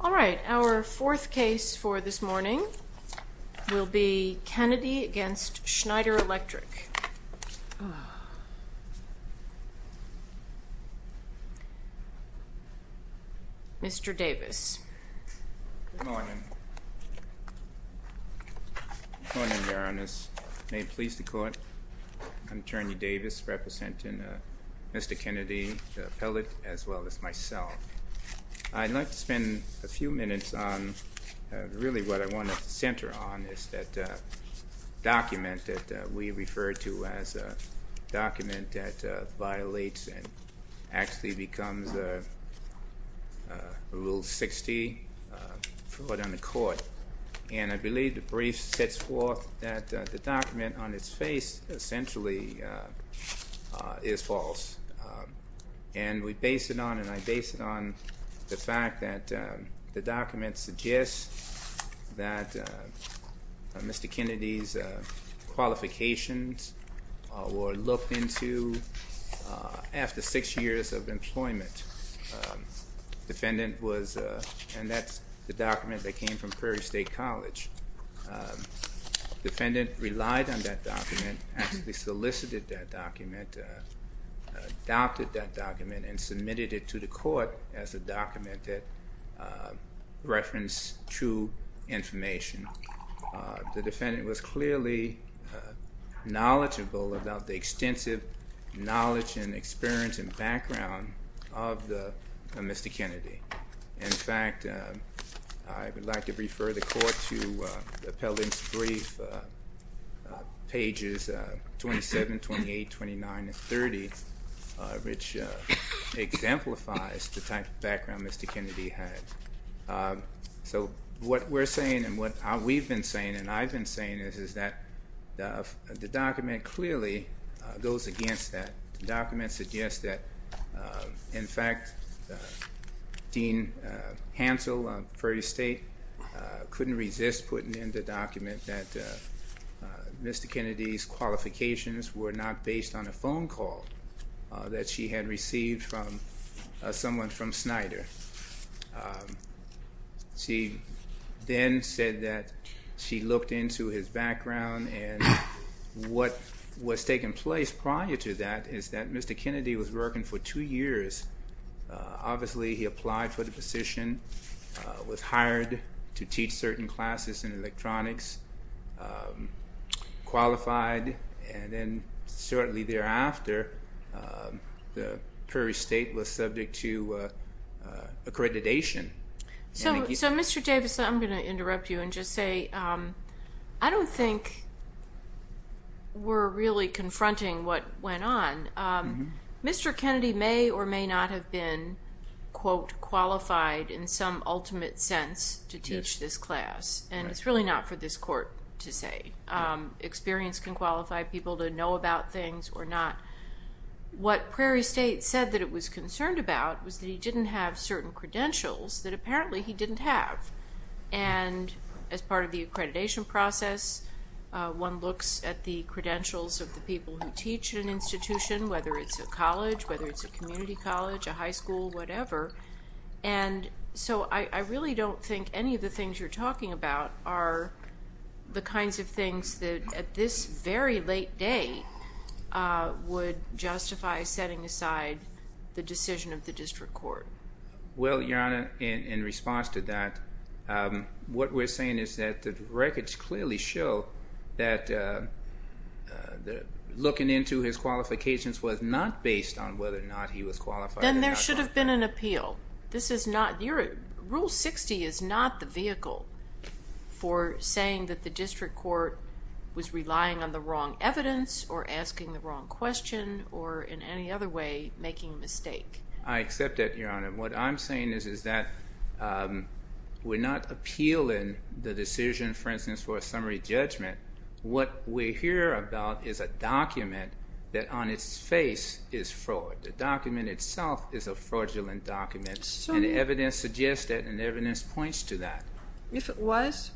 All right, our fourth case for this morning will be Kennedy v. Schneider Electric. Mr. Davis. Good morning. Good morning, Your Honor. It is my pleasure to call upon Attorney Davis representing Mr. Kennedy, the appellate, as well as myself. I'd like to spend a few minutes on really what I want to center on is that document that we refer to as a document that violates and actually becomes a Rule 60 fraud on the court. And I believe the brief sets forth that the document on its face essentially is false. And we base it on, and I base it on, the fact that the document suggests that Mr. Kennedy's qualifications were looked into after six years of employment. Defendant was, and that's the document that came from Prairie State College. Defendant relied on that document, actually solicited that document, adopted that document, and submitted it to the court as a document that referenced true information. The defendant was clearly knowledgeable about the extensive knowledge and experience and background of Mr. Kennedy. In fact, I would like to refer the court to the appellate's brief pages 27, 28, 29, and 30, which exemplifies the type of background Mr. Kennedy had. So what we're saying and what we've been saying and I've been saying is that the document clearly goes against that. The document suggests that, in fact, Dean Hansel of Prairie State couldn't resist putting in the document that Mr. Kennedy's qualifications were not based on a phone call that she had received from someone from Snyder. She then said that she looked into his background and what was taking place prior to that is that Mr. Kennedy was working for two years. Obviously, he applied for the position, was hired to teach certain classes in electronics, qualified, and then shortly thereafter, the Prairie State was subject to accreditation. So, Mr. Davis, I'm going to interrupt you and just say I don't think we're really confronting what went on. Mr. Kennedy may or may not have been, quote, qualified in some ultimate sense to teach this class, and it's really not for this court to say. Experience can qualify people to know about things or not. What Prairie State said that it was concerned about was that he didn't have certain credentials that apparently he didn't have. And as part of the accreditation process, one looks at the credentials of the people who teach at an institution, whether it's a college, whether it's a community college, a high school, whatever. And so I really don't think any of the things you're talking about are the kinds of things that at this very late date would justify setting aside the decision of the district court. Well, Your Honor, in response to that, what we're saying is that the records clearly show that looking into his qualifications was not based on whether or not he was qualified. Then there should have been an appeal. Rule 60 is not the vehicle for saying that the district court was relying on the wrong evidence or asking the wrong question or in any other way making a mistake. I accept that, Your Honor. What I'm saying is that we're not appealing the decision, for instance, for a summary judgment. What we hear about is a document that on its face is fraud. The document itself is a fraudulent document and evidence suggests that and evidence points to that. If it was,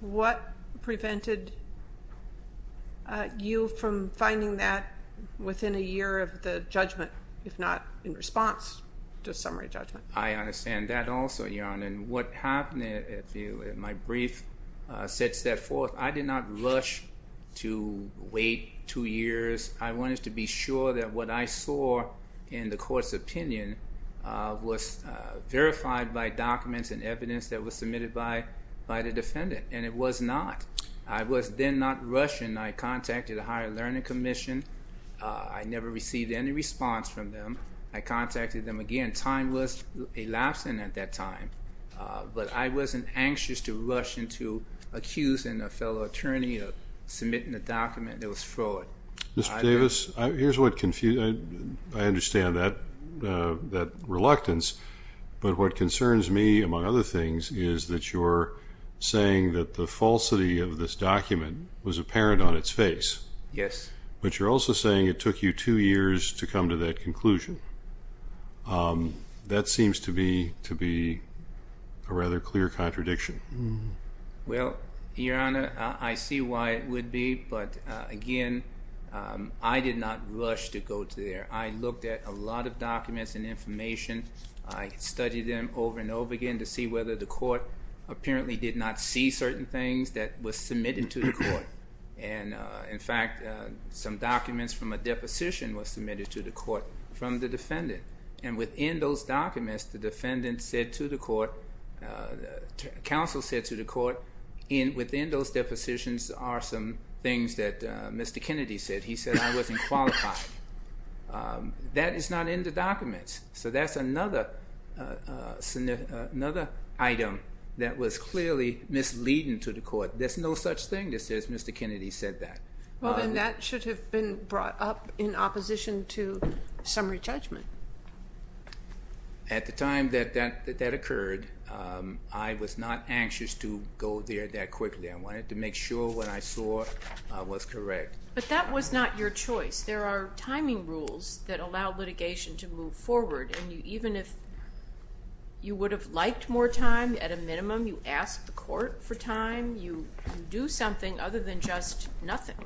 what prevented you from finding that within a year of the judgment, if not in response to a summary judgment? I understand that also, Your Honor. And what happened in my brief said step forth, I did not rush to wait two years. I wanted to be sure that what I saw in the court's opinion was verified by documents and evidence that was submitted by the defendant. And it was not. I was then not rushing. I contacted the Higher Learning Commission. I never received any response from them. I contacted them again. And time was elapsing at that time. But I wasn't anxious to rush into accusing a fellow attorney of submitting a document that was fraud. Mr. Davis, here's what confused me. I understand that reluctance. But what concerns me, among other things, is that you're saying that the falsity of this document was apparent on its face. Yes. But you're also saying it took you two years to come to that conclusion. That seems to be a rather clear contradiction. Well, Your Honor, I see why it would be. But, again, I did not rush to go to there. I looked at a lot of documents and information. I studied them over and over again to see whether the court apparently did not see certain things that were submitted to the court. And, in fact, some documents from a deposition were submitted to the court from the defendant. And within those documents, the defendant said to the court, the counsel said to the court, within those depositions are some things that Mr. Kennedy said. He said I wasn't qualified. That is not in the documents. So that's another item that was clearly misleading to the court. But there's no such thing as Mr. Kennedy said that. Well, then that should have been brought up in opposition to summary judgment. At the time that that occurred, I was not anxious to go there that quickly. I wanted to make sure what I saw was correct. But that was not your choice. There are timing rules that allow litigation to move forward. And even if you would have liked more time, at a minimum, you ask the court for time. You do something other than just nothing.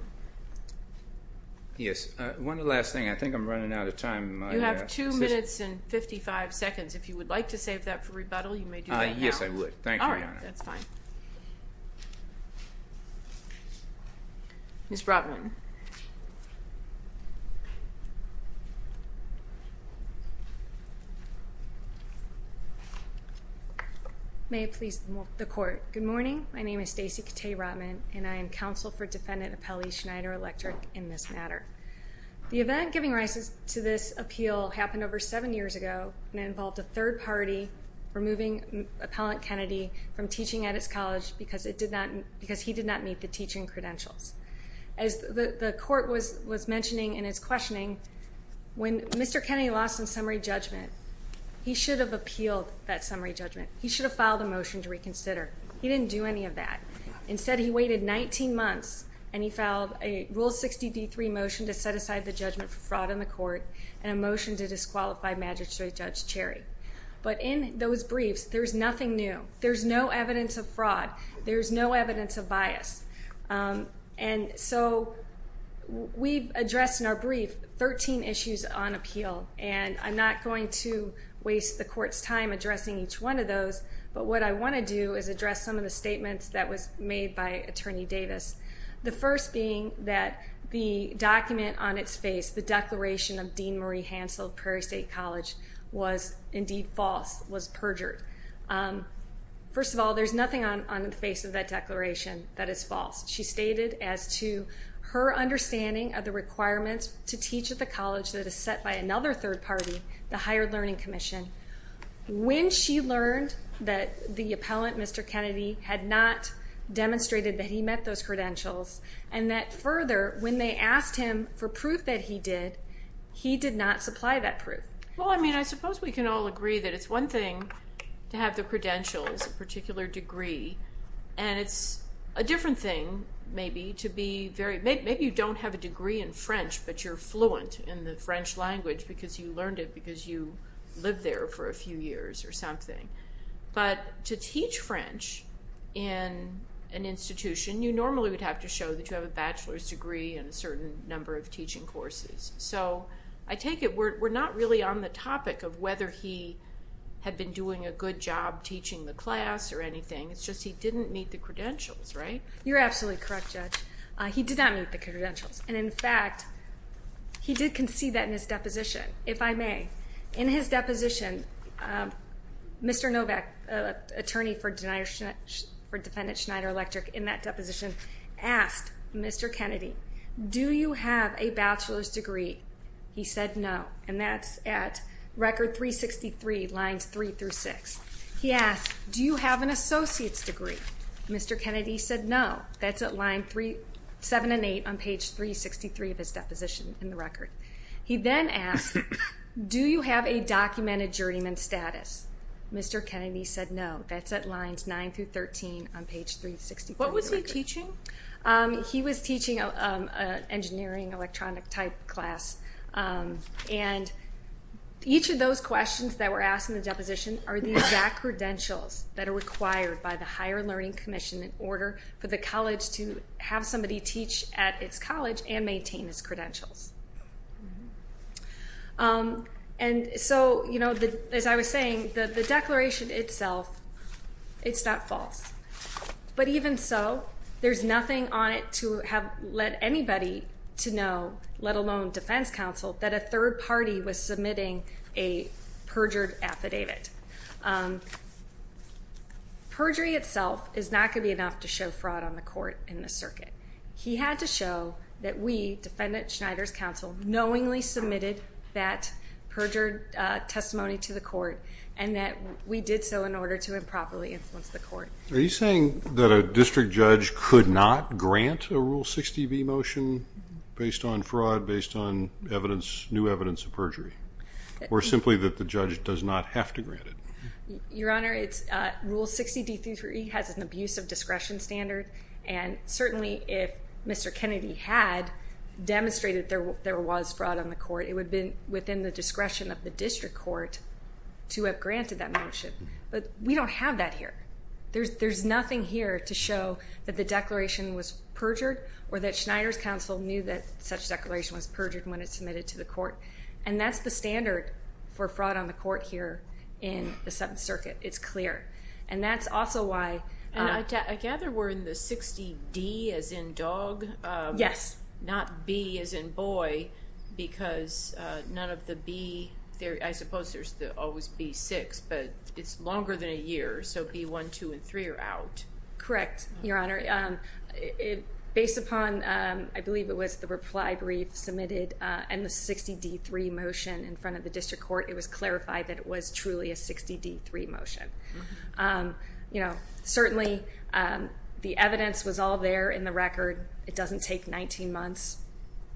Yes. One last thing. I think I'm running out of time. You have two minutes and 55 seconds. If you would like to save that for rebuttal, you may do that now. Yes, I would. Thank you, Your Honor. All right. That's fine. Ms. Rotman. May it please the court. Good morning. My name is Stacey Katee Rotman, and I am counsel for defendant Appellee Schneider-Electrick in this matter. The event giving rise to this appeal happened over seven years ago. And it involved a third party removing Appellant Kennedy from teaching at his college because he did not meet the teaching credentials. As the court was mentioning in its questioning, when Mr. Kennedy lost in summary judgment, he should have appealed that summary judgment. He should have filed a motion to reconsider. He didn't do any of that. Instead, he waited 19 months, and he filed a Rule 60d3 motion to set aside the judgment for fraud in the court and a motion to disqualify Magistrate Judge Cherry. But in those briefs, there's nothing new. There's no evidence of fraud. There's no evidence of bias. And so we've addressed in our brief 13 issues on appeal, and I'm not going to waste the court's time addressing each one of those. But what I want to do is address some of the statements that was made by Attorney Davis, the first being that the document on its face, the Declaration of Dean Marie Hansel of Prairie State College, was indeed false, was perjured. First of all, there's nothing on the face of that declaration that is false. She stated as to her understanding of the requirements to teach at the college that is set by another third party, the Higher Learning Commission, when she learned that the appellant, Mr. Kennedy, had not demonstrated that he met those credentials, and that further, when they asked him for proof that he did, he did not supply that proof. Well, I mean, I suppose we can all agree that it's one thing to have the credentials, a particular degree, and it's a different thing, maybe, to be very, maybe you don't have a degree in French, but you're fluent in the French language because you learned it because you lived there for a few years or something. But to teach French in an institution, you normally would have to show that you have a bachelor's degree and a certain number of teaching courses. So I take it we're not really on the topic of whether he had been doing a good job teaching the class or anything. It's just he didn't meet the credentials, right? You're absolutely correct, Judge. He did not meet the credentials. And, in fact, he did concede that in his deposition, if I may. In his deposition, Mr. Novak, attorney for Defendant Schneider Electric, in that deposition, asked Mr. Kennedy, do you have a bachelor's degree? He said no, and that's at Record 363, Lines 3 through 6. He asked, do you have an associate's degree? Mr. Kennedy said no. That's at Lines 7 and 8 on Page 363 of his deposition in the record. He then asked, do you have a documented journeyman status? Mr. Kennedy said no. That's at Lines 9 through 13 on Page 363. What was he teaching? He was teaching an engineering electronic-type class, and each of those questions that were asked in the deposition are the exact credentials that are required by the Higher Learning Commission in order for the college to have somebody teach at its college and maintain its credentials. And so, you know, as I was saying, the declaration itself, it's not false. But even so, there's nothing on it to have led anybody to know, let alone defense counsel, that a third party was submitting a perjured affidavit. Perjury itself is not going to be enough to show fraud on the court in this circuit. He had to show that we, Defendant Schneider's counsel, knowingly submitted that perjured testimony to the court and that we did so in order to improperly influence the court. Are you saying that a district judge could not grant a Rule 60B motion based on fraud, based on new evidence of perjury, or simply that the judge does not have to grant it? Your Honor, Rule 60D33E has an abuse of discretion standard, and certainly if Mr. Kennedy had demonstrated there was fraud on the court, it would have been within the discretion of the district court to have granted that motion. But we don't have that here. There's nothing here to show that the declaration was perjured or that Schneider's counsel knew that such declaration was perjured when it was submitted to the court. And that's the standard for fraud on the court here in the Seventh Circuit. It's clear. And that's also why... I gather we're in the 60D as in dog? Yes. Not B as in boy, because none of the B, I suppose there's always B6, but it's longer than a year, so B1, 2, and 3 are out. Correct, Your Honor. Based upon, I believe it was the reply brief submitted and the 60D3 motion in front of the district court, it was clarified that it was truly a 60D3 motion. You know, certainly the evidence was all there in the record. It doesn't take 19 months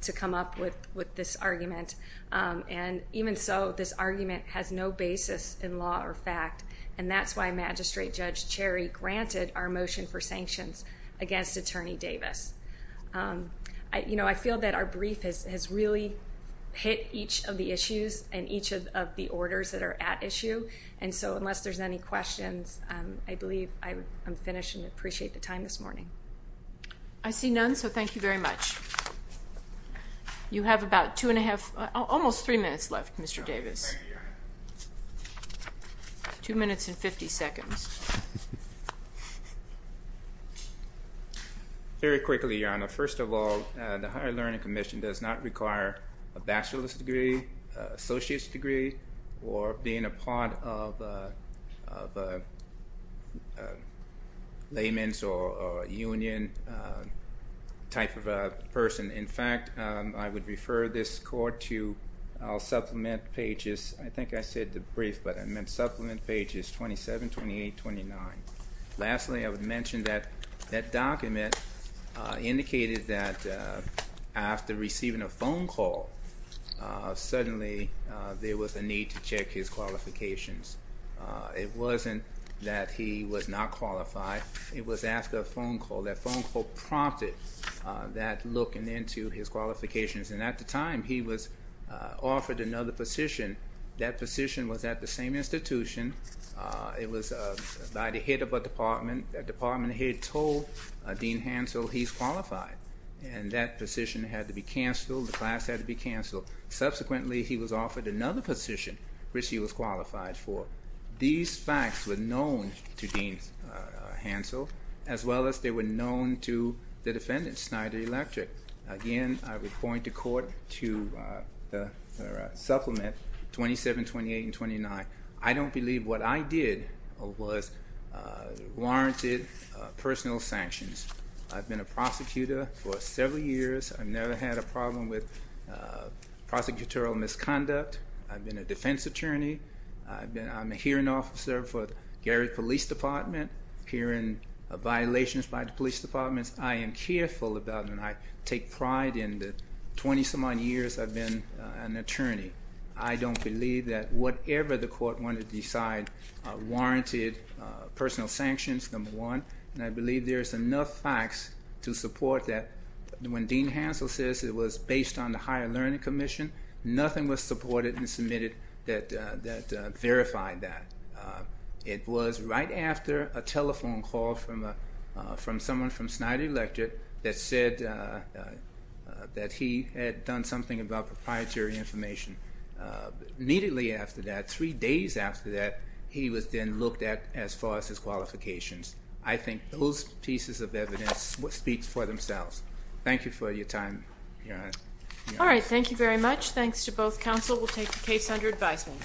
to come up with this argument. And even so, this argument has no basis in law or fact, and that's why Magistrate Judge Cherry granted our motion for sanctions against Attorney Davis. You know, I feel that our brief has really hit each of the issues and each of the orders that are at issue, and so unless there's any questions, I believe I'm finished and appreciate the time this morning. I see none, so thank you very much. You have about two and a half, almost three minutes left, Mr. Davis. Thank you, Your Honor. Two minutes and 50 seconds. Very quickly, Your Honor. First of all, the Higher Learning Commission does not require a bachelor's degree, associate's degree, or being a part of layman's or union type of person. In fact, I would refer this court to our supplement pages. I think I said the brief, but I meant supplement pages 27, 28, 29. Lastly, I would mention that that document indicated that after receiving a phone call, suddenly there was a need to check his qualifications. It wasn't that he was not qualified. It was after a phone call. That phone call prompted that look into his qualifications, and at the time he was offered another position. That position was at the same institution. It was by the head of a department. That department head told Dean Hansel he's qualified, and that position had to be canceled. The class had to be canceled. Subsequently, he was offered another position which he was qualified for. These facts were known to Dean Hansel, as well as they were known to the defendant, Snyder Electric. Again, I would point the court to the supplement 27, 28, and 29. I don't believe what I did was warranted personal sanctions. I've been a prosecutor for several years. I've never had a problem with prosecutorial misconduct. I've been a defense attorney. I'm a hearing officer for the Gary Police Department. Hearing violations by the police departments, I am careful about them. I take pride in the 20-some-odd years I've been an attorney. I don't believe that whatever the court wanted to decide warranted personal sanctions, number one, and I believe there's enough facts to support that. When Dean Hansel says it was based on the Higher Learning Commission, nothing was supported and submitted that verified that. It was right after a telephone call from someone from Snyder Electric that said that he had done something about proprietary information. Immediately after that, three days after that, he was then looked at as far as his qualifications. I think those pieces of evidence speak for themselves. Thank you for your time, Your Honor. All right, thank you very much. Thanks to both counsel. We'll take the case under advisement.